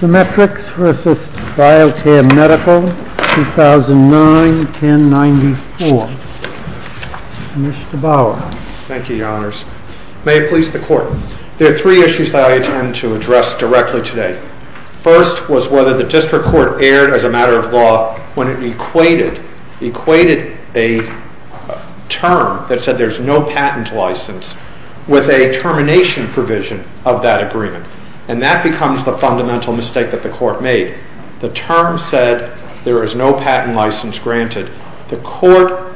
2009-1094. Mr. Bauer. Thank you, Your Honors. May it please the Court. There are three issues that I intend to address directly today. First was whether the District Court erred as a matter of law when it equated a term that said there's no patent license with a termination provision of that agreement. And that becomes the fundamental mistake that the Court made. The term said there is no patent license granted. The Court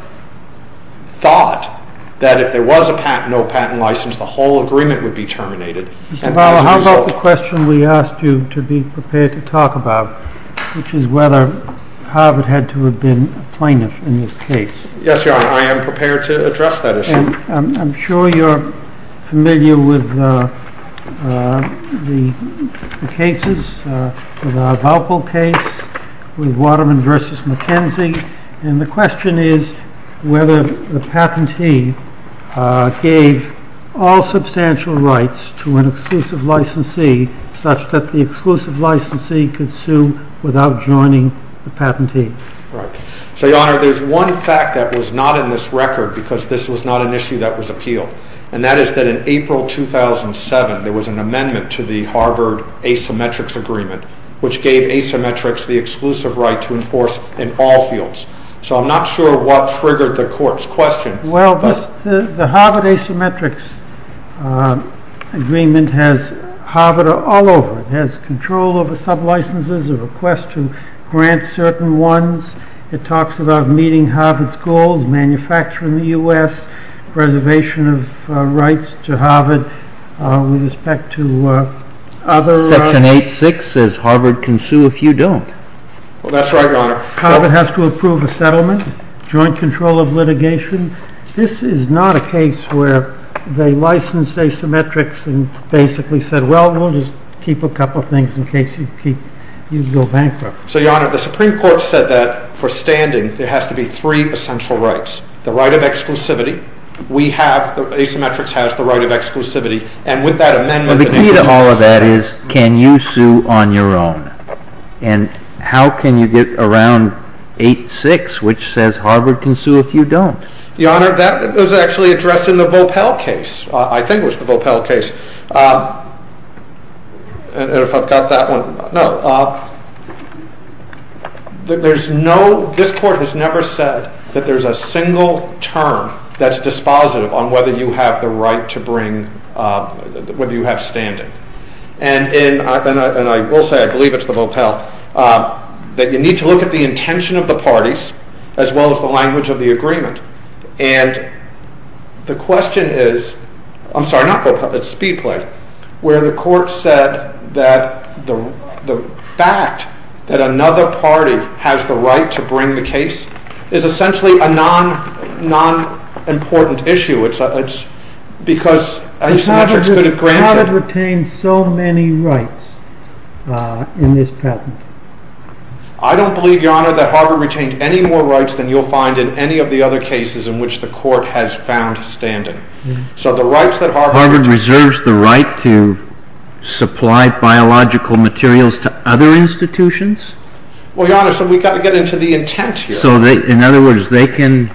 thought that if there was a patent, no patent license, the whole agreement would be terminated. Mr. Bauer, how about the question we asked you to be prepared to talk about, which is whether Harvard had to have been a plaintiff in this case? Yes, Your Honor. I am prepared to address that issue. I'm sure you're familiar with the cases, the Valpo case, with Waterman v. McKenzie. And the question is whether the patentee gave all substantial rights to an exclusive licensee such that the exclusive licensee could sue without joining the patentee. Right. So, Your Honor, there's one fact that was not in this record because this was not an issue that was appealed. And that is that in April 2007, there was an amendment to the Harvard Asymmetrics Agreement, which gave asymmetrics the exclusive right to enforce in all fields. So I'm not sure what triggered the Court's question. Well, the Harvard Asymmetrics Agreement has Harvard all over. It has control over sublicenses, a request to grant certain ones. It talks about meeting Harvard's goals, manufacturing the U.S., preservation of rights to Harvard, with respect to other… Section 8.6 says Harvard can sue if you don't. Harvard has to approve a settlement, joint control of litigation. This is not a case where they licensed asymmetrics and basically said, well, we'll just keep a couple of things in case you go bankrupt. So, Your Honor, the Supreme Court said that, for standing, there has to be three essential rights. The right of exclusivity, we have, asymmetrics has the right of exclusivity, and with that amendment… So the key to all of that is, can you sue on your own? And how can you get around 8.6, which says Harvard can sue if you don't? Your Honor, that was actually addressed in the Vopel case. I think it was the Vopel case. And if I've got that one, no. There's no, this court has never said that there's a single term that's dispositive on whether you have the right to bring, whether you have standing. And I will say, I believe it's the Vopel, that you need to look at the intention of the parties, as well as the language of the agreement. And the question is, I'm sorry, not Vopel, it's Speedplay, where the court said that the fact that another party has the right to bring the case is essentially a non-important issue. It's because asymmetrics could have granted… But Harvard retained so many rights in this patent. I don't believe, Your Honor, that Harvard retained any more rights than you'll find in any of the other cases in which the court has found standing. So the rights that Harvard… Harvard reserves the right to supply biological materials to other institutions? Well, Your Honor, so we've got to get into the intent here. So in other words, they can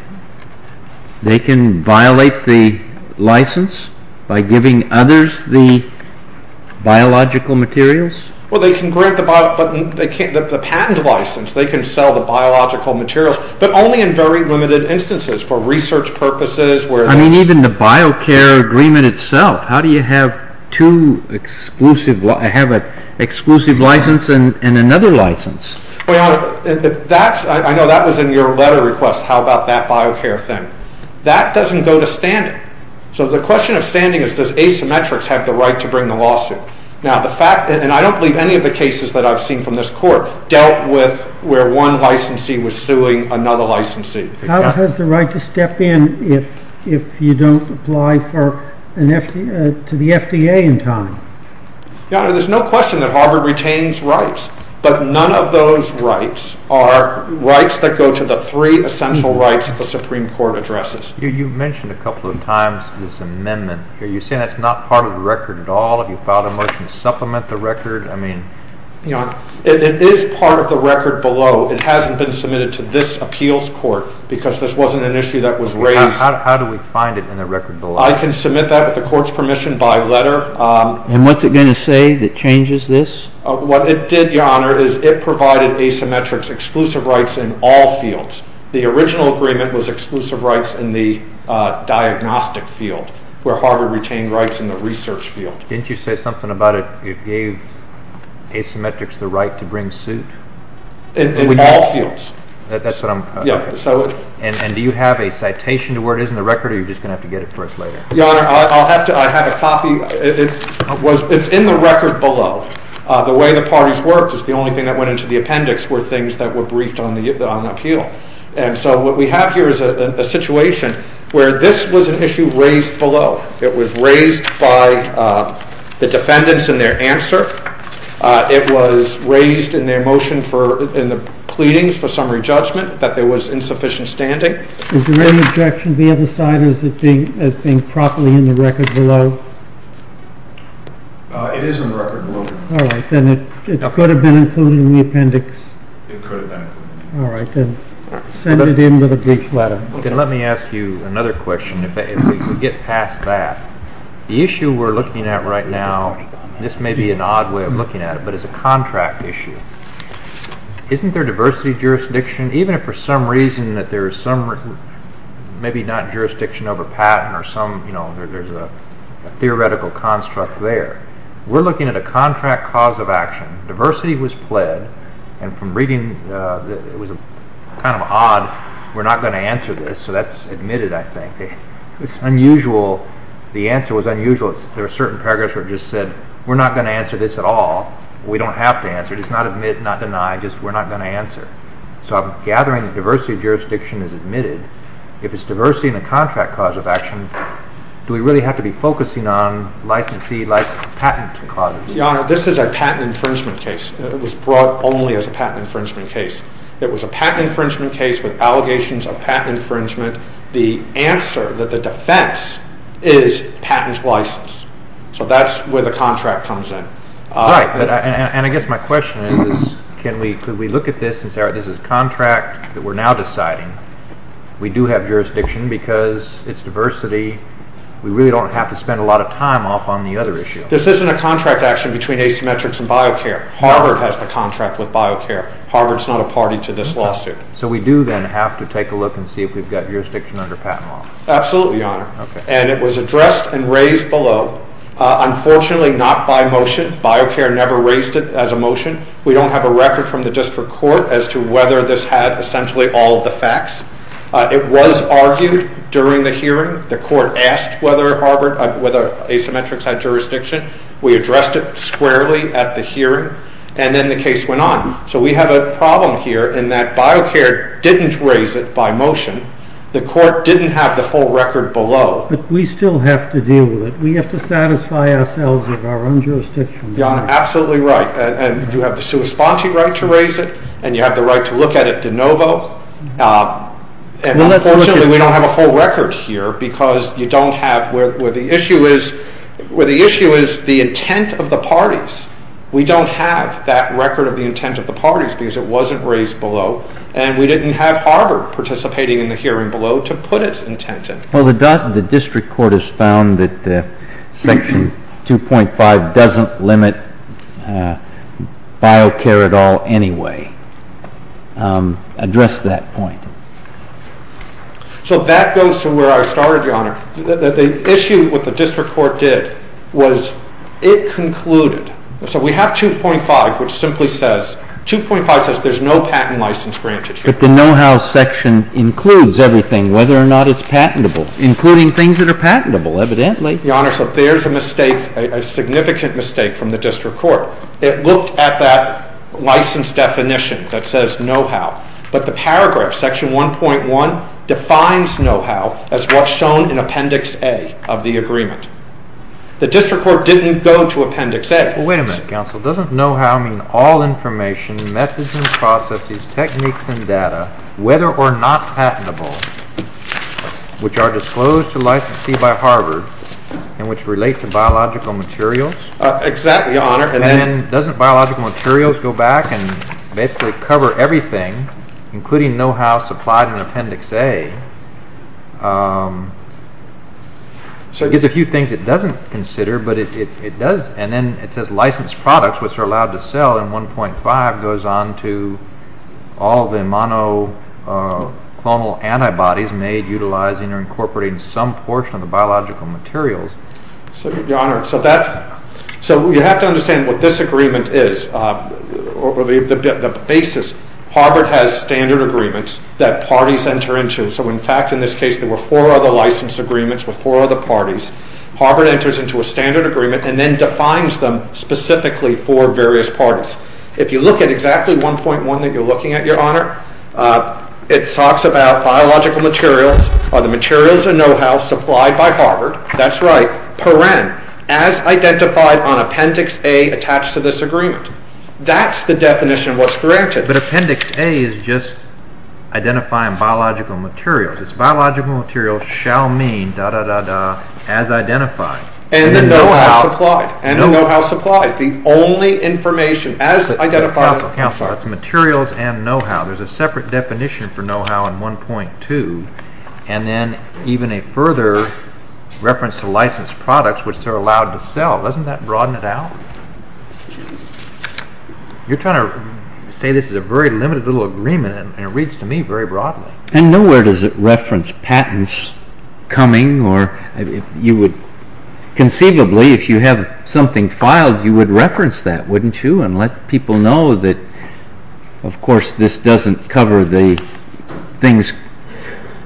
violate the license by giving others the biological materials? Well, they can grant the patent license. They can sell the biological materials, but only in very limited instances for research purposes. I mean, even the biocare agreement itself. How do you have an exclusive license and another license? Well, Your Honor, I know that was in your letter request, how about that biocare thing. That doesn't go to standing. So the question of standing is, does asymmetrics have the right to bring the lawsuit? And I don't believe any of the cases that I've seen from this court dealt with where one licensee was suing another licensee. How does the right to step in if you don't apply to the FDA in time? Your Honor, there's no question that Harvard retains rights, but none of those rights are rights that go to the three essential rights that the Supreme Court addresses. You mentioned a couple of times this amendment. Are you saying that's not part of the record at all? Have you filed a motion to supplement the record? It is part of the record below. It hasn't been submitted to this appeals court because this wasn't an issue that was raised. How do we find it in the record below? I can submit that with the court's permission by letter. And what's it going to say that changes this? What it did, Your Honor, is it provided asymmetrics exclusive rights in all fields. The original agreement was exclusive rights in the diagnostic field where Harvard retained rights in the research field. Didn't you say something about it gave asymmetrics the right to bring suit? In all fields. And do you have a citation to where it is in the record or are you just going to have to get it for us later? Your Honor, I have a copy. It's in the record below. The way the parties worked is the only thing that went into the appendix were things that were briefed on the appeal. And so what we have here is a situation where this was an issue raised below. It was raised by the defendants in their answer. It was raised in their motion in the pleadings for summary judgment that there was insufficient standing. Is there any objection to the other side or is it being properly in the record below? It is in the record below. All right, then it could have been included in the appendix. It could have been. All right, then send it in with a brief letter. Let me ask you another question. If we could get past that. The issue we're looking at right now, this may be an odd way of looking at it, but it's a contract issue. Isn't there diversity jurisdiction? Even if for some reason that there is maybe not jurisdiction over patent or there's a theoretical construct there. We're looking at a contract cause of action. Diversity was pled and from reading it was kind of odd. We're not going to answer this, so that's admitted, I think. It's unusual. The answer was unusual. There are certain paragraphs where it just said we're not going to answer this at all. We don't have to answer it. It's not admit, not deny, just we're not going to answer. So I'm gathering that diversity of jurisdiction is admitted. If it's diversity in a contract cause of action, do we really have to be focusing on licensee, patent clauses? Your Honor, this is a patent infringement case. It was brought only as a patent infringement case. It was a patent infringement case with allegations of patent infringement. The answer, the defense, is patent license. So that's where the contract comes in. Right. And I guess my question is can we look at this and say this is a contract that we're now deciding. We do have jurisdiction because it's diversity. We really don't have to spend a lot of time off on the other issue. This isn't a contract action between Asymmetrics and BioCare. Harvard has the contract with BioCare. Harvard's not a party to this lawsuit. So we do then have to take a look and see if we've got jurisdiction under patent law. Absolutely, Your Honor. And it was addressed and raised below. Unfortunately, not by motion. BioCare never raised it as a motion. We don't have a record from the district court as to whether this had essentially all of the facts. It was argued during the hearing. The court asked whether Asymmetrics had jurisdiction. We addressed it squarely at the hearing, and then the case went on. So we have a problem here in that BioCare didn't raise it by motion. The court didn't have the full record below. But we still have to deal with it. We have to satisfy ourselves of our own jurisdiction. Your Honor, absolutely right. And you have the sua sponte right to raise it, and you have the right to look at it de novo. And unfortunately, we don't have a full record here because you don't have where the issue is the intent of the parties. We don't have that record of the intent of the parties because it wasn't raised below. And we didn't have Harvard participating in the hearing below to put its intent in. Well, the district court has found that Section 2.5 doesn't limit BioCare at all anyway. Address that point. So that goes to where I started, Your Honor. The issue with what the district court did was it concluded. So we have 2.5, which simply says 2.5 says there's no patent license granted here. But the know-how section includes everything, whether or not it's patentable, including things that are patentable, evidently. Your Honor, so there's a mistake, a significant mistake from the district court. It looked at that license definition that says know-how. But the paragraph, Section 1.1, defines know-how as what's shown in Appendix A of the agreement. The district court didn't go to Appendix A. Wait a minute, counsel. Doesn't know-how mean all information, methods and processes, techniques and data, whether or not patentable, which are disclosed to licensee by Harvard and which relate to biological materials? Exactly, Your Honor. And doesn't biological materials go back and basically cover everything, including know-how supplied in Appendix A? There's a few things it doesn't consider, and then it says licensed products, which are allowed to sell in 1.5, goes on to all the monoclonal antibodies made utilizing or incorporating some portion of the biological materials. So, Your Honor, you have to understand what this agreement is, or the basis. Harvard has standard agreements that parties enter into. So, in fact, in this case, there were four other license agreements with four other parties. Harvard enters into a standard agreement and then defines them specifically for various parties. If you look at exactly 1.1 that you're looking at, Your Honor, it talks about biological materials, are the materials a know-how supplied by Harvard? That's right, per-en, as identified on Appendix A attached to this agreement. That's the definition of what's granted. But Appendix A is just identifying biological materials. It's biological materials shall mean, da-da-da-da, as identified. And the know-how supplied. And the know-how supplied. The only information as identified. It's materials and know-how. There's a separate definition for know-how in 1.2, and then even a further reference to licensed products, which they're allowed to sell. Doesn't that broaden it out? You're trying to say this is a very limited little agreement, and it reads to me very broadly. And nowhere does it reference patents coming. Conceivably, if you have something filed, you would reference that, wouldn't you? And let people know that, of course, this doesn't cover the things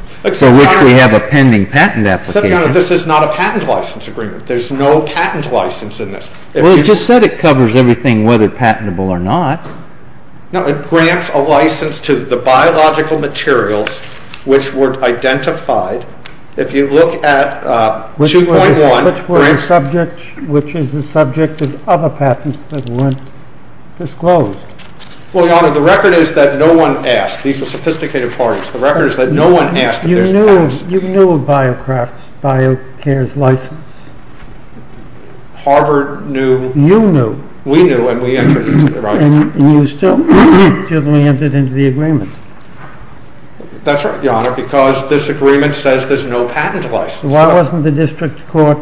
for which we have a pending patent application. Except, Your Honor, this is not a patent license agreement. There's no patent license in this. Well, you just said it covers everything, whether patentable or not. No, it grants a license to the biological materials which were identified. If you look at 2.1. Which is the subject of other patents that weren't disclosed. Well, Your Honor, the record is that no one asked. These were sophisticated parties. The record is that no one asked if there's patents. You knew of BioCare's license. Harvard knew. You knew. We knew, and we entered into the agreement. And you still didn't enter into the agreement. That's right, Your Honor, because this agreement says there's no patent license. So why wasn't the district court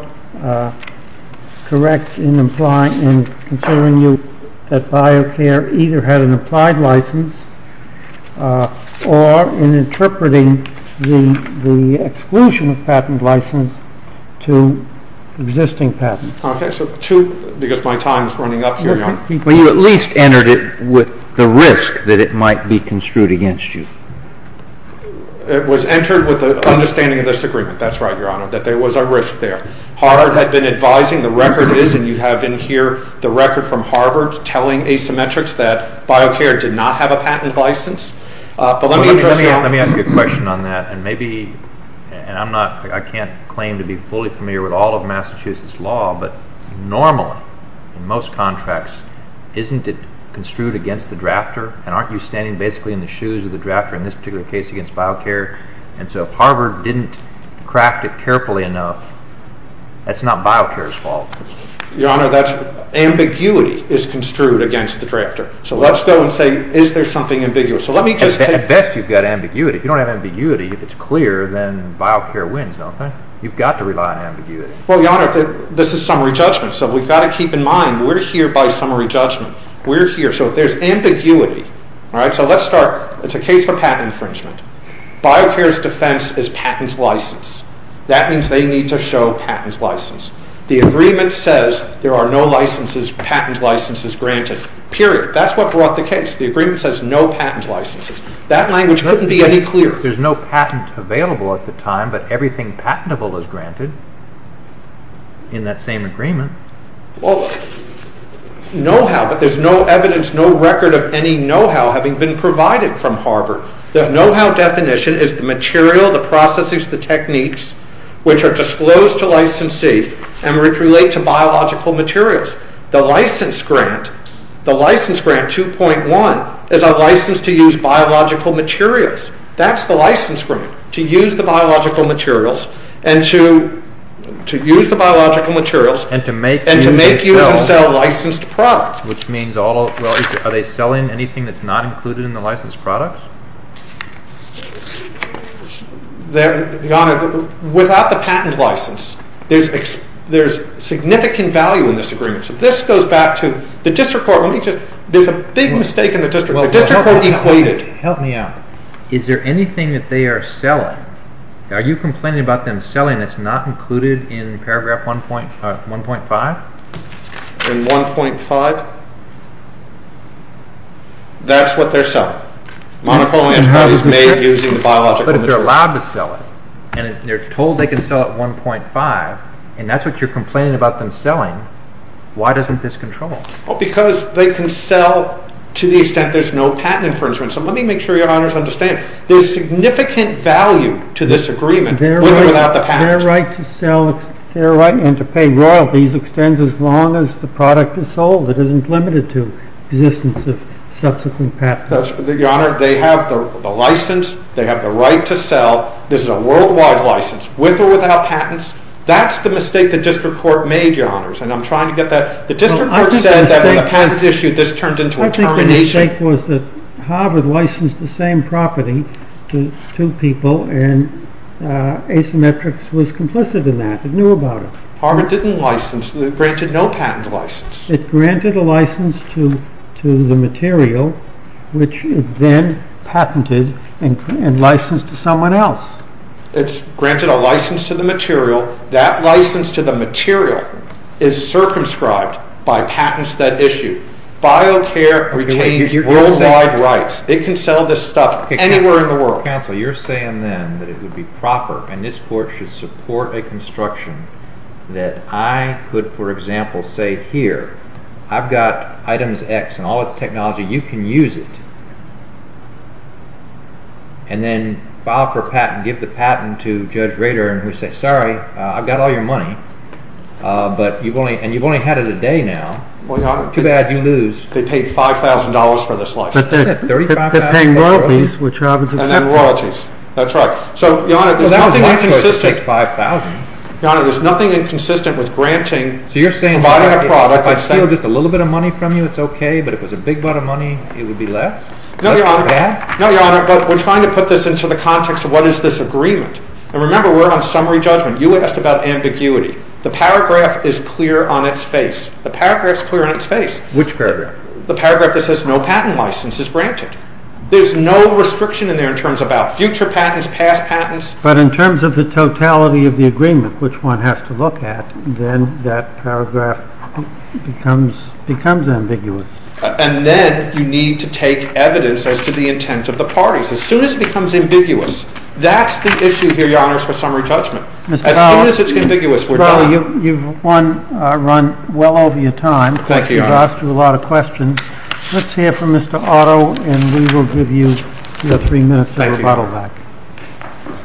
correct in considering that BioCare either had an applied license or in interpreting the exclusion of patent license to existing patents? Because my time is running up here, Your Honor. Well, you at least entered it with the risk that it might be construed against you. It was entered with the understanding of this agreement. That's right, Your Honor, that there was a risk there. Harvard had been advising. The record is, and you have in here the record from Harvard telling Asymmetrics that BioCare did not have a patented license. Let me ask you a question on that. And I can't claim to be fully familiar with all of Massachusetts law, and aren't you standing basically in the shoes of the drafter in this particular case against BioCare? And so if Harvard didn't craft it carefully enough, that's not BioCare's fault. Your Honor, ambiguity is construed against the drafter. So let's go and say, is there something ambiguous? I bet you've got ambiguity. If you don't have ambiguity, if it's clear, then BioCare wins, don't they? You've got to rely on ambiguity. Well, Your Honor, this is summary judgment, so we've got to keep in mind we're here by summary judgment. So if there's ambiguity, so let's start. It's a case for patent infringement. BioCare's defense is patent license. That means they need to show patent license. The agreement says there are no patent licenses granted, period. That's what brought the case. The agreement says no patent licenses. That language couldn't be any clearer. There's no patent available at the time, but everything patentable is granted in that same agreement. Well, know-how, but there's no evidence, no record of any know-how having been provided from Harbor. The know-how definition is the material, the processes, the techniques which are disclosed to licensee and which relate to biological materials. The license grant, the license grant 2.1, is a license to use biological materials. That's the license grant, to use the biological materials and to make, use, and sell licensed products. Are they selling anything that's not included in the licensed products? Your Honor, without the patent license, there's significant value in this agreement. So this goes back to the district court. There's a big mistake in the district court. The district court equated. Help me out. Is there anything that they are selling? Are you complaining about them selling that's not included in Paragraph 1.5? In 1.5? That's what they're selling. Monoclonal antibodies made using biological materials. But they're allowed to sell it, and they're told they can sell it 1.5, and that's what you're complaining about them selling. Why doesn't this control? Because they can sell to the extent there's no patent infringement. So let me make sure Your Honors understand. There's significant value to this agreement, with or without the patent. Their right to sell and to pay royalties extends as long as the product is sold. It isn't limited to the existence of subsequent patents. Your Honor, they have the license. They have the right to sell. This is a worldwide license, with or without patents. That's the mistake the district court made, Your Honors, and I'm trying to get that. The district court said that when the patent was issued, this turned into a termination. I think the mistake was that Harvard licensed the same property to two people, and asymmetrics was complicit in that. It knew about it. Harvard didn't license. It granted no patent license. It granted a license to the material, which it then patented and licensed to someone else. It's granted a license to the material. That license to the material is circumscribed by patents that issue. BioCare retains worldwide rights. It can sell this stuff anywhere in the world. Counsel, you're saying then that it would be proper and this court should support a construction that I could, for example, say here, I've got items X and all its technology. You can use it. And then file for a patent, give the patent to Judge Rader, and he'll say, sorry, I've got all your money, and you've only had it a day now. Too bad you lose. They paid $5,000 for this license. They're paying royalties, which Harvard's assumed. And then royalties. That's right. So, Your Honor, there's nothing inconsistent. It takes $5,000. Your Honor, there's nothing inconsistent with granting a product. So you're saying if I steal just a little bit of money from you, it's okay, but if it was a big butt of money, it would be less? No, Your Honor. No, Your Honor, but we're trying to put this into the context of what is this agreement. And remember, we're on summary judgment. You asked about ambiguity. The paragraph is clear on its face. The paragraph's clear on its face. Which paragraph? The paragraph that says no patent license is granted. There's no restriction in there in terms about future patents, past patents. But in terms of the totality of the agreement, which one has to look at, then that paragraph becomes ambiguous. And then you need to take evidence as to the intent of the parties. As soon as it becomes ambiguous, that's the issue here, Your Honor, for summary judgment. As soon as it's ambiguous, we're done. Mr. Powell, you've run well over your time. Thank you, Your Honor. You've asked a lot of questions. Let's hear from Mr. Otto, and we will give you your three minutes of rebuttal back. Thank you, Your Honor.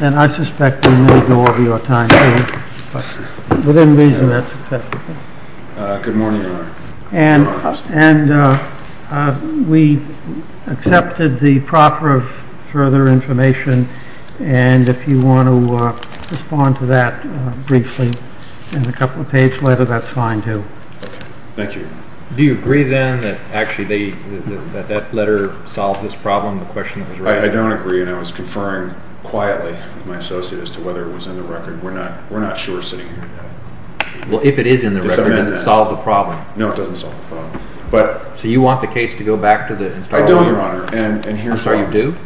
And I suspect we may go over your time, too. But within reason, that's acceptable. Good morning, Your Honor. And we accepted the proper further information, and if you want to respond to that briefly in a couple-page letter, that's fine, too. Thank you. Do you agree, then, that actually that letter solved this problem, the question was raised? I don't agree, and I was conferring quietly with my associate as to whether it was in the record. We're not sure sitting here today. Well, if it is in the record, it doesn't solve the problem. No, it doesn't solve the problem. So you want the case to go back to the historian? I do, Your Honor, and here's why. I'm sorry, you do?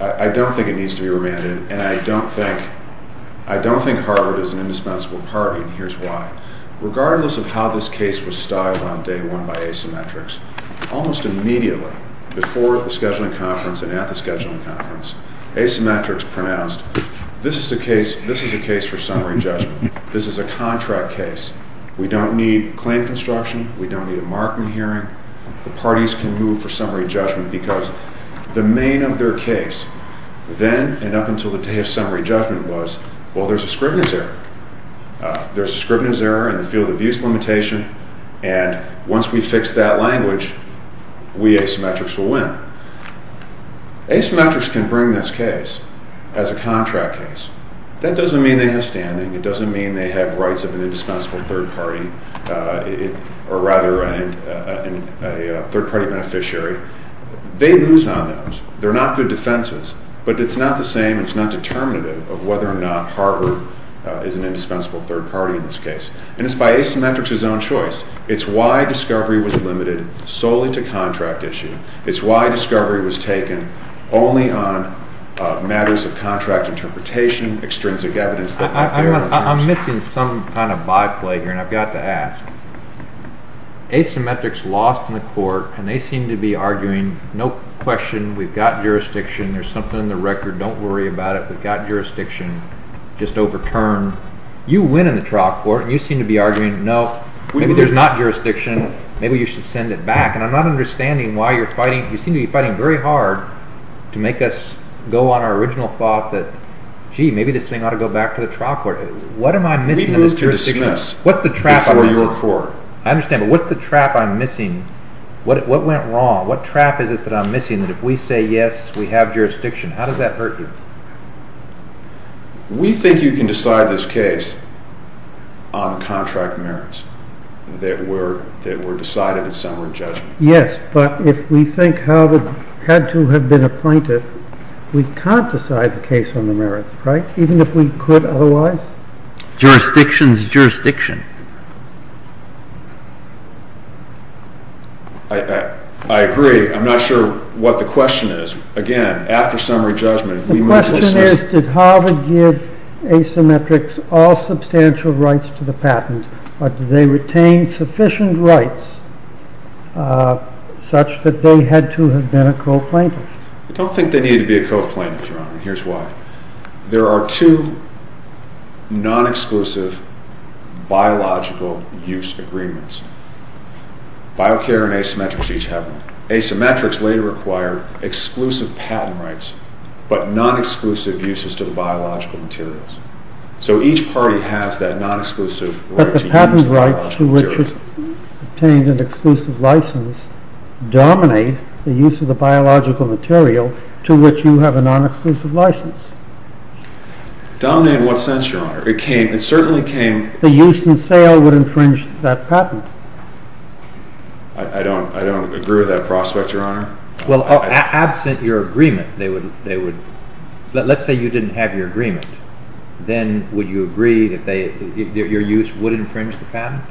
I don't think it needs to be remanded, and I don't think Harvard is an indispensable party, and here's why. Regardless of how this case was styled on day one by asymmetrics, almost immediately, before the scheduling conference and at the scheduling conference, asymmetrics pronounced, this is a case for summary judgment. This is a contract case. We don't need claim construction. We don't need a marking hearing. The parties can move for summary judgment because the main of their case then and up until the day of summary judgment was, well, there's a scrivener's error. There's a scrivener's error in the field of use limitation, and once we fix that language, we asymmetrics will win. Asymmetrics can bring this case as a contract case. That doesn't mean they have standing. It doesn't mean they have rights of an indispensable third party or, rather, a third-party beneficiary. They lose on those. They're not good defenses, but it's not the same. It's not determinative of whether or not Harvard is an indispensable third party in this case, and it's by asymmetrics' own choice. It's why discovery was limited solely to contract issue. It's why discovery was taken only on matters of contract interpretation, extrinsic evidence. I'm missing some kind of byplay here, and I've got to ask. Asymmetrics lost in the court, and they seem to be arguing, no question, we've got jurisdiction. There's something in the record. Don't worry about it. We've got jurisdiction. Just overturn. You win in the trial court, and you seem to be arguing, no, maybe there's not jurisdiction. Maybe you should send it back. And I'm not understanding why you're fighting. You seem to be fighting very hard to make us go on our original thought that, gee, maybe this thing ought to go back to the trial court. What am I missing in this jurisdiction? We move to dismiss before your court. I understand, but what's the trap I'm missing? What went wrong? What trap is it that I'm missing that if we say yes, we have jurisdiction? How does that hurt you? We think you can decide this case on the contract merits that were decided at summary judgment. Yes, but if we think Hal had to have been a plaintiff, we can't decide the case on the merits, right, even if we could otherwise? Jurisdiction is jurisdiction. I agree. I'm not sure what the question is. Again, after summary judgment, we move to dismiss. The question is did Hal give asymmetrics all substantial rights to the patent, or did they retain sufficient rights such that they had to have been a co-plaintiff? I don't think they needed to be a co-plaintiff, Your Honor, and here's why. There are two non-exclusive biological use agreements. Biocare and asymmetrics each have them. Asymmetrics later acquired exclusive patent rights, but non-exclusive uses to the biological materials. So each party has that non-exclusive right to use the biological materials. But the patent rights to which it obtained an exclusive license dominate the use of the biological material to which you have a non-exclusive license. Dominate in what sense, Your Honor? The use and sale would infringe that patent. I don't agree with that prospect, Your Honor. Well, absent your agreement, let's say you didn't have your agreement, then would you agree that your use would infringe the patent?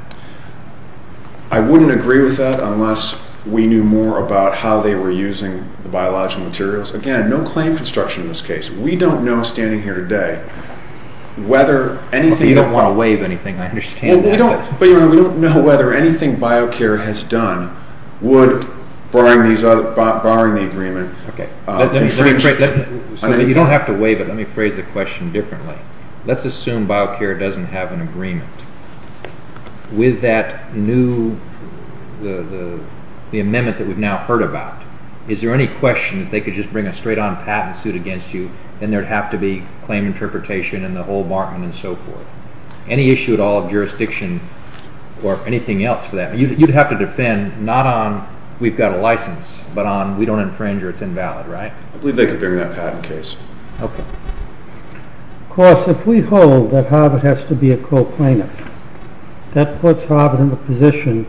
I wouldn't agree with that unless we knew more about how they were using the biological materials. Again, no claim construction in this case. We don't know, standing here today, whether anything— You don't want to waive anything. I understand that. But, Your Honor, we don't know whether anything Biocare has done would, barring the agreement, infringe— You don't have to waive it. Let me phrase the question differently. Let's assume Biocare doesn't have an agreement. With that new—the amendment that we've now heard about, is there any question that they could just bring a straight-on patent suit against you and there'd have to be claim interpretation and the whole bargain and so forth? Any issue at all of jurisdiction or anything else for that? You'd have to defend not on we've got a license, but on we don't infringe or it's invalid, right? I believe they could bring that patent case. Of course, if we hold that Harvard has to be a co-plaintiff, that puts Harvard in the position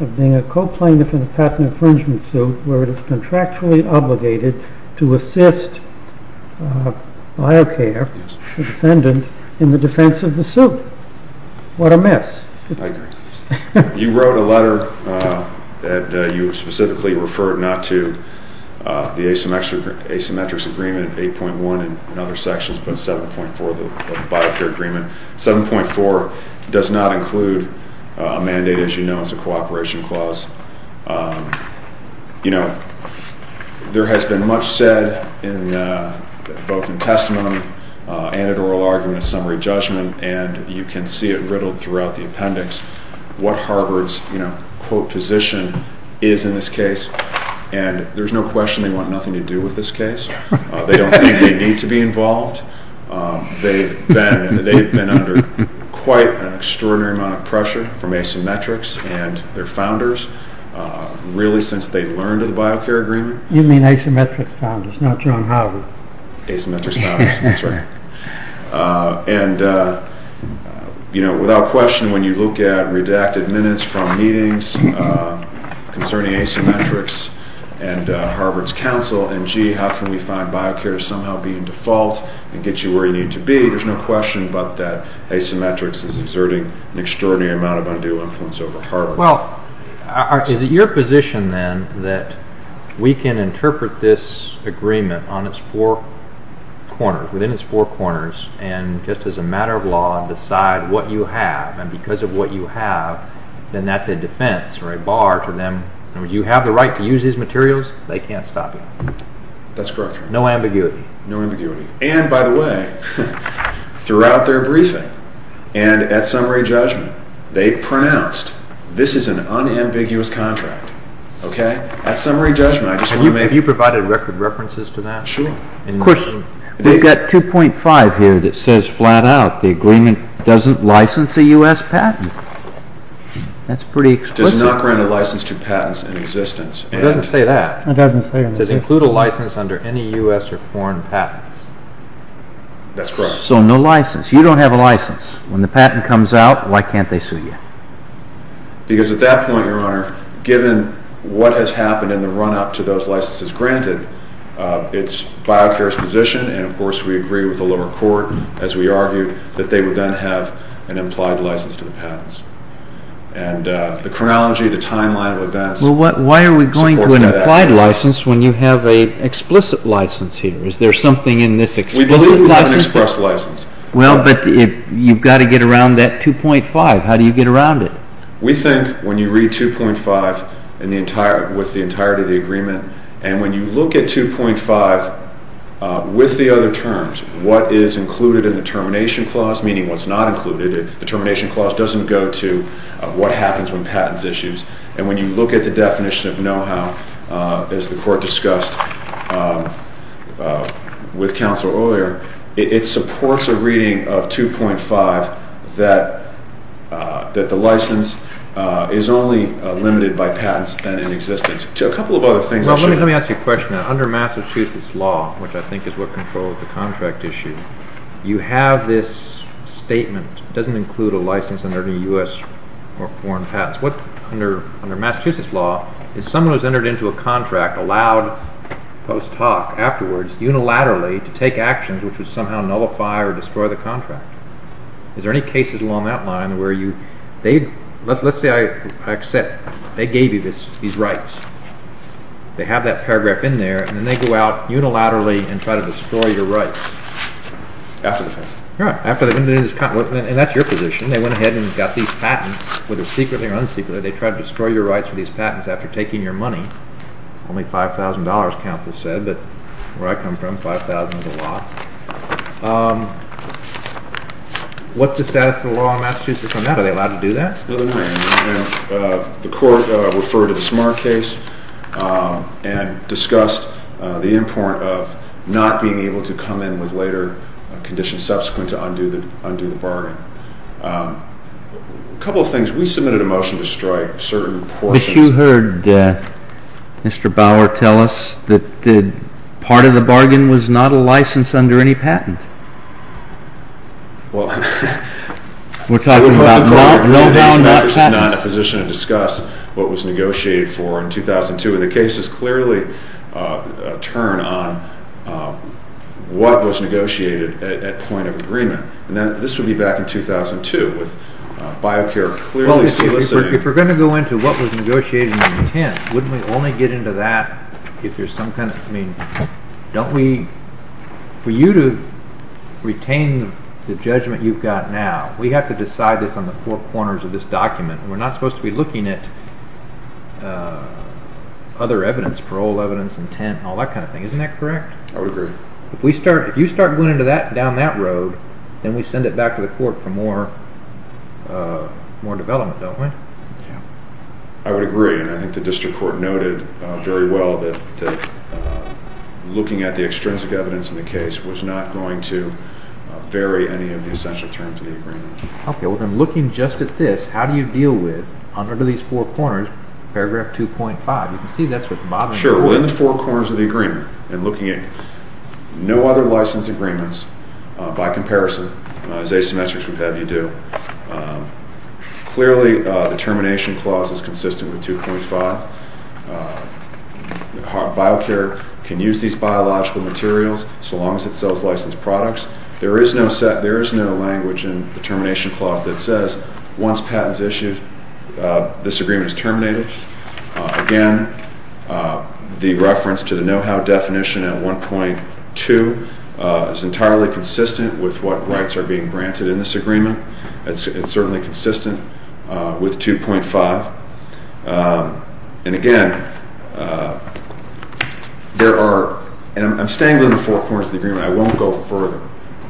of being a co-plaintiff in a patent infringement suit where it is contractually obligated to assist Biocare, the defendant, in the defense of the suit. What a mess. I agree. You wrote a letter that you specifically referred not to the asymmetric agreement 8.1 and other sections, but 7.4 of the Biocare agreement. 7.4 does not include a mandate, as you know, as a cooperation clause. You know, there has been much said both in testimony and at oral argument and summary judgment, and you can see it riddled throughout the appendix, what Harvard's, you know, quote, position is in this case. And there's no question they want nothing to do with this case. They don't think they need to be involved. They've been under quite an extraordinary amount of pressure from asymmetrics and their founders, really since they learned of the Biocare agreement. You mean asymmetric founders, not John Harvard. Asymmetric founders, that's right. And, you know, without question, when you look at redacted minutes from meetings concerning asymmetrics and Harvard's counsel, and, gee, how can we find Biocare to somehow be in default and get you where you need to be, there's no question but that asymmetrics is exerting an extraordinary amount of undue influence over Harvard. Well, is it your position, then, that we can interpret this agreement on its four corners, within its four corners, and just as a matter of law decide what you have, and because of what you have, then that's a defense or a bar to them. You have the right to use these materials. They can't stop you. That's correct. No ambiguity. No ambiguity. And, by the way, throughout their briefing and at summary judgment, they pronounced, this is an unambiguous contract, okay? At summary judgment, I just want to make... Have you provided record references to that? Sure. Of course, we've got 2.5 here that says flat out the agreement doesn't license a U.S. patent. That's pretty explicit. Does not grant a license to patents in existence. It doesn't say that. It doesn't say that. It says include a license under any U.S. or foreign patents. That's correct. So no license. You don't have a license. When the patent comes out, why can't they sue you? Because at that point, Your Honor, given what has happened in the run-up to those licenses granted, it's biochar's position, and, of course, we agree with the lower court, as we argued, that they would then have an implied license to the patents. And the chronology, the timeline of events... Well, why are we going to an implied license when you have an explicit license here? Is there something in this explicit license? We believe we have an express license. Well, but you've got to get around that 2.5. How do you get around it? We think when you read 2.5 with the entirety of the agreement, and when you look at 2.5 with the other terms, what is included in the termination clause, meaning what's not included, the termination clause doesn't go to what happens when patents issues. And when you look at the definition of know-how, as the court discussed with counsel earlier, it supports a reading of 2.5 that the license is only limited by patents than in existence. A couple of other things... Well, let me ask you a question. Under Massachusetts law, which I think is what controls the contract issue, you have this statement. It doesn't include a license under any U.S. or foreign patents. Under Massachusetts law, if someone has entered into a contract, allowed post hoc, afterwards, unilaterally, to take actions which would somehow nullify or destroy the contract. Is there any cases along that line where you... Let's say I accept. They gave you these rights. They have that paragraph in there, and then they go out unilaterally and try to destroy your rights. After the patent. Right. And that's your position. They went ahead and got these patents, whether secretly or unsecretly. They tried to destroy your rights for these patents after taking your money. Only $5,000, counsel said. But where I come from, $5,000 is a lot. What's the status of the law in Massachusetts on that? Are they allowed to do that? No, they're not. The court referred to the Smart case and discussed the import of not being able to come in with later conditions subsequent to undo the bargain. A couple of things. We submitted a motion to strike certain portions. But you heard Mr. Bauer tell us that part of the bargain was not a license under any patent. Well, we're talking about— No, no, no, no, no, no. This is not a position to discuss what was negotiated for in 2002. And the case is clearly a turn on what was negotiated at point of agreement. And this would be back in 2002 with BioCare clearly soliciting— Well, if we're going to go into what was negotiated in intent, wouldn't we only get into that if there's some kind of— For you to retain the judgment you've got now, we have to decide this on the four corners of this document. We're not supposed to be looking at other evidence, parole evidence, intent, and all that kind of thing. Isn't that correct? I would agree. If you start going down that road, then we send it back to the court for more development, don't we? Yeah. I would agree. And I think the district court noted very well that looking at the extrinsic evidence in the case was not going to vary any of the essential terms of the agreement. Okay. Well, then looking just at this, how do you deal with, under these four corners, paragraph 2.5? You can see that's what the bottom— Sure. Well, in the four corners of the agreement, and looking at no other license agreements by comparison, as asymmetrics would have you do, clearly the termination clause is consistent with 2.5. Biocare can use these biological materials so long as it sells licensed products. There is no language in the termination clause that says once patent is issued, this agreement is terminated. Again, the reference to the know-how definition in 1.2 is entirely consistent with what rights are being granted in this agreement. It's certainly consistent with 2.5. And again, there are— and I'm staying within the four corners of the agreement. I won't go further.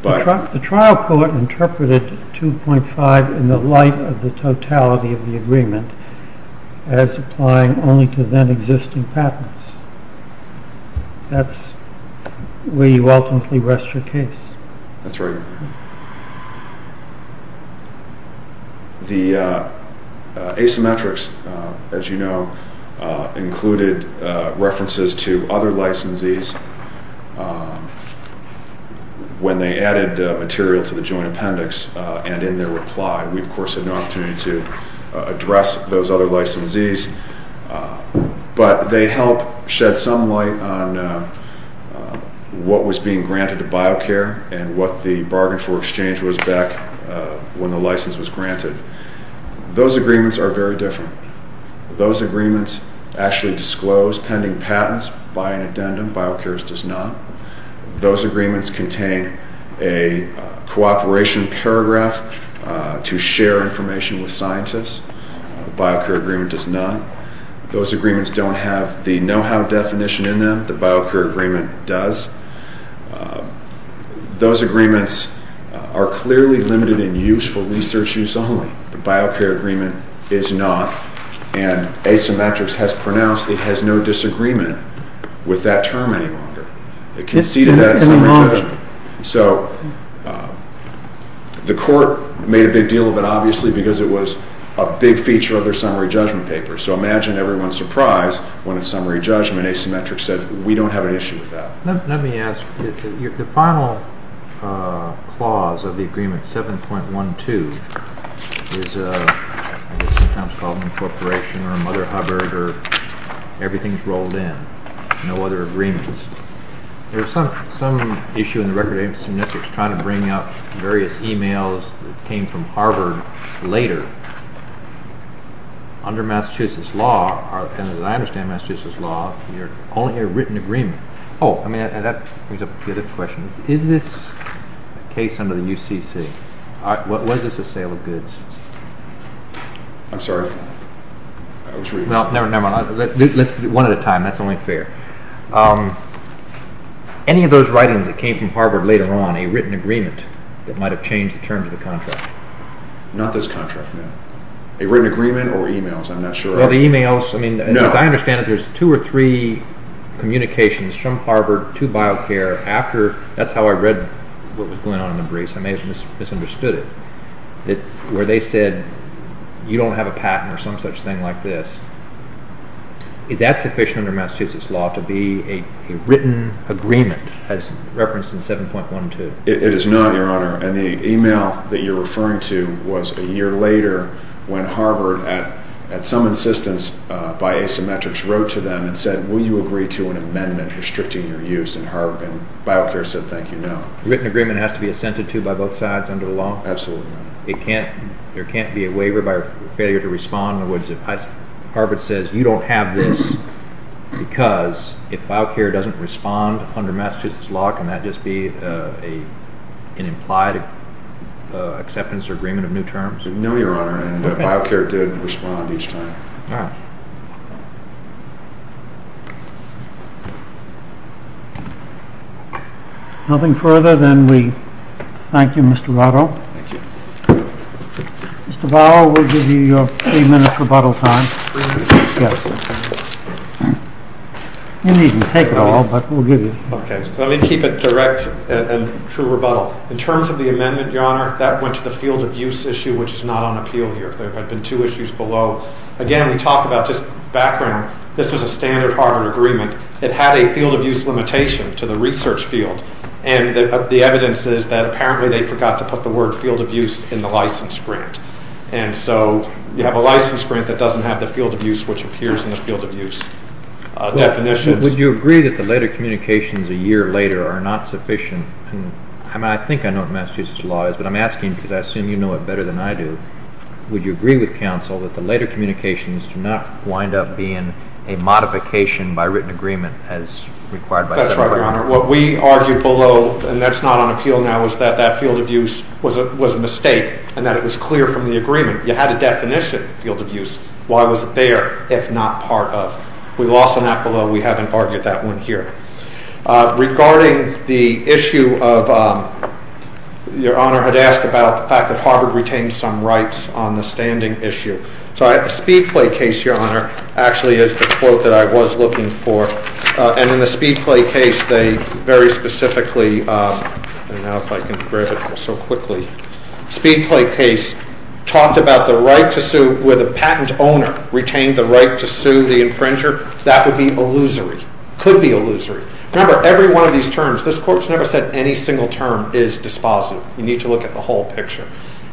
The trial court interpreted 2.5 in the light of the totality of the agreement as applying only to then-existing patents. That's where you ultimately rest your case. That's right. The asymmetrics, as you know, included references to other licensees when they added material to the joint appendix and in their reply. We, of course, had no opportunity to address those other licensees. But they help shed some light on what was being granted to Biocare and what the bargain for exchange was back when the license was granted. Those agreements are very different. Those agreements actually disclose pending patents by an addendum. Biocare's does not. Those agreements contain a cooperation paragraph to share information with scientists. The Biocare agreement does not. Those agreements don't have the know-how definition in them. The Biocare agreement does. Those agreements are clearly limited in use for research use only. The Biocare agreement is not. And Asymmetrics has pronounced it has no disagreement with that term any longer. It conceded that in summary judgment. So the court made a big deal of it, obviously, because it was a big feature of their summary judgment paper. So imagine everyone's surprise when, in summary judgment, Asymmetrics said, we don't have an issue with that. Let me ask. The final clause of the agreement, 7.12, is sometimes called incorporation or Mother Hubbard, or everything's rolled in, no other agreements. There's some issue in the record of Asymmetrics trying to bring up various emails that came from Harvard later. Under Massachusetts law, and as I understand Massachusetts law, you only hear written agreement. Oh, that brings up a good question. Is this a case under the UCC? Was this a sale of goods? I'm sorry. Well, never mind. Let's do one at a time. That's only fair. Any of those writings that came from Harvard later on, a written agreement that might have changed the terms of the contract? Not this contract, no. A written agreement or emails, I'm not sure. As I understand it, there's two or three communications from Harvard to BioCare after, that's how I read what was going on in the briefs, I may have misunderstood it, where they said you don't have a patent or some such thing like this. Is that sufficient under Massachusetts law to be a written agreement as referenced in 7.12? It is not, Your Honor. And the email that you're referring to was a year later when Harvard, at some insistence by asymmetrics, wrote to them and said, will you agree to an amendment restricting your use in Harvard? And BioCare said, thank you, no. A written agreement has to be assented to by both sides under the law? Absolutely not. There can't be a waiver by failure to respond. In other words, if Harvard says you don't have this because if BioCare doesn't respond under Massachusetts law, can that just be an implied acceptance or agreement of new terms? No, Your Honor, and BioCare did respond each time. All right. Nothing further, then we thank you, Mr. Votto. Thank you. Mr. Votto, we'll give you your three minutes rebuttal time. Really? Yes. You needn't take it all, but we'll give you it. Okay. In terms of the amendment, Your Honor, that went to the field-of-use issue, which is not on appeal here. There had been two issues below. Again, we talk about just background. This was a standard Harvard agreement. It had a field-of-use limitation to the research field, and the evidence is that apparently they forgot to put the word field-of-use in the license grant. And so you have a license grant that doesn't have the field-of-use, which appears in the field-of-use definitions. Would you agree that the later communications a year later are not sufficient? I mean, I think I know what Massachusetts law is, but I'm asking because I assume you know it better than I do. Would you agree with counsel that the later communications do not wind up being a modification by written agreement as required by federal law? That's right, Your Honor. What we argued below, and that's not on appeal now, is that that field-of-use was a mistake and that it was clear from the agreement. You had a definition of field-of-use. Why was it there if not part of? We lost on that below. We haven't argued that one here. Regarding the issue of, Your Honor had asked about the fact that Harvard retained some rights on the standing issue. So the Speedplay case, Your Honor, actually is the quote that I was looking for. And in the Speedplay case, they very specifically, and now if I can grab it so quickly, Speedplay case talked about the right to sue where the patent owner retained the right to sue the infringer. That would be illusory, could be illusory. Remember, every one of these terms, this court's never said any single term is dispositive. You need to look at the whole picture.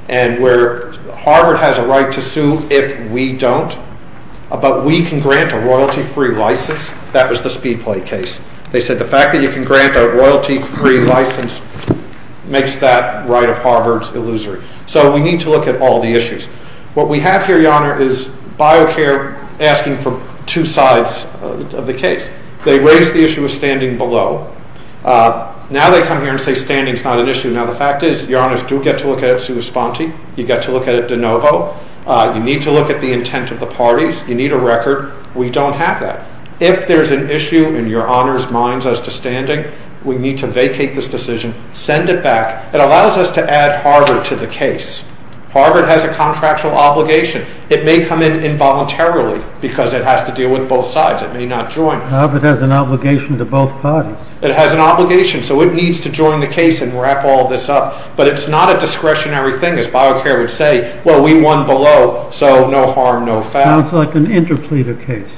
And where Harvard has a right to sue if we don't, but we can grant a royalty-free license, that was the Speedplay case. They said the fact that you can grant a royalty-free license makes that right of Harvard's illusory. So we need to look at all the issues. What we have here, Your Honor, is BioCare asking for two sides of the case. They raised the issue of standing below. Now they come here and say standing's not an issue. Now the fact is, Your Honors do get to look at it sui sponte. You get to look at it de novo. You need to look at the intent of the parties. You need a record. We don't have that. If there's an issue in Your Honor's minds as to standing, we need to vacate this decision, send it back. It allows us to add Harvard to the case. Harvard has a contractual obligation. It may come in involuntarily because it has to deal with both sides. It may not join. Harvard has an obligation to both parties. It has an obligation, so it needs to join the case and wrap all this up. But it's not a discretionary thing, as BioCare would say. Well, we won below, so no harm, no foul. So it's like an interpleader case.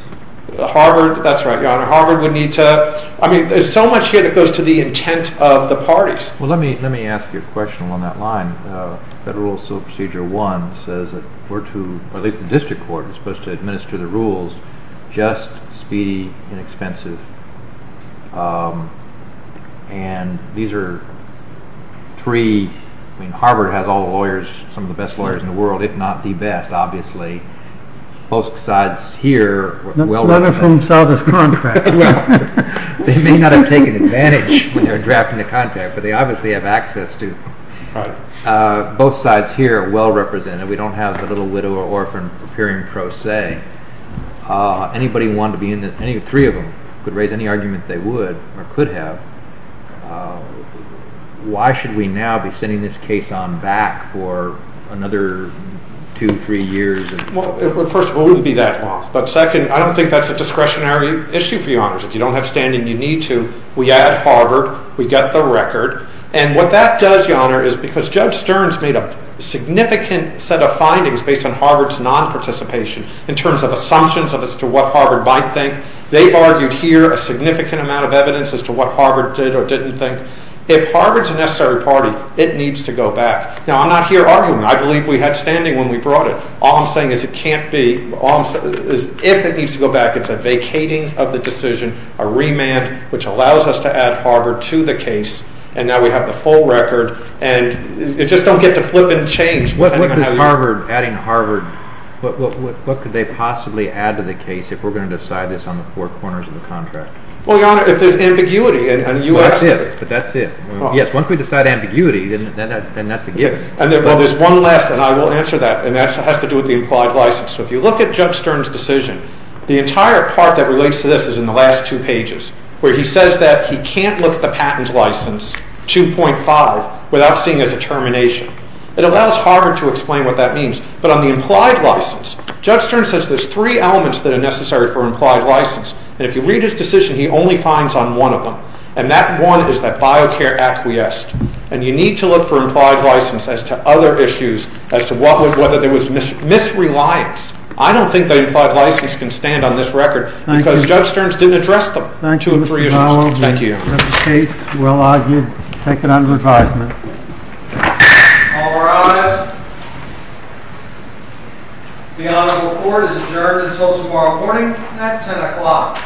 Harvard, that's right, Your Honor. Harvard would need to, I mean, there's so much here that goes to the intent of the parties. Well, let me ask you a question along that line. Federal Civil Procedure 1 says that we're to, or at least the district court is supposed to administer the rules, just, speedy, inexpensive. And these are three, I mean, Harvard has all the lawyers, some of the best lawyers in the world, if not the best, obviously. Both sides here... None of whom saw this contract. They may not have taken advantage when they were drafting the contract, but they obviously have access to it. Right. Both sides here are well represented. We don't have the little widower orphan appearing pro se. Anybody wanting to be in this, any three of them could raise any argument they would or could have. Why should we now be sending this case on back for another two, three years? Well, first of all, it wouldn't be that long. But second, I don't think that's a discretionary issue for you, Your Honors. If you don't have standing, you need to. We add Harvard. We get the record. And what that does, Your Honor, is because Judge Stearns made a significant set of findings based on Harvard's non-participation in terms of assumptions as to what Harvard might think. They've argued here a significant amount of evidence as to what Harvard did or didn't think. If Harvard's a necessary party, it needs to go back. Now, I'm not here arguing. I believe we had standing when we brought it. All I'm saying is it can't be. All I'm saying is if it needs to go back, it's a vacating of the decision, a remand, which allows us to add Harvard to the case. And now we have the full record. And it just don't get to flip and change. What could Harvard, adding Harvard, what could they possibly add to the case if we're going to decide this on the four corners of the contract? Well, Your Honor, if there's ambiguity. But that's it. Yes, once we decide ambiguity, then that's a given. Well, there's one last, and I will answer that. And that has to do with the implied license. So if you look at Judge Stern's decision, the entire part that relates to this is in the last two pages, where he says that he can't look at the patent license, 2.5, without seeing it as a termination. It allows Harvard to explain what that means. But on the implied license, Judge Stern says there's three elements that are necessary for implied license. And if you read his decision, he only finds on one of them. And that one is that biocare acquiesced. And you need to look for implied license as to other issues, as to whether there was misreliance. I don't think that implied license can stand on this record, because Judge Stern's didn't address them. Thank you, Mr. Powell. Thank you. That's the case. Well argued. Take it under advisement. All rise. The honorable court is adjourned until tomorrow morning at 10 o'clock.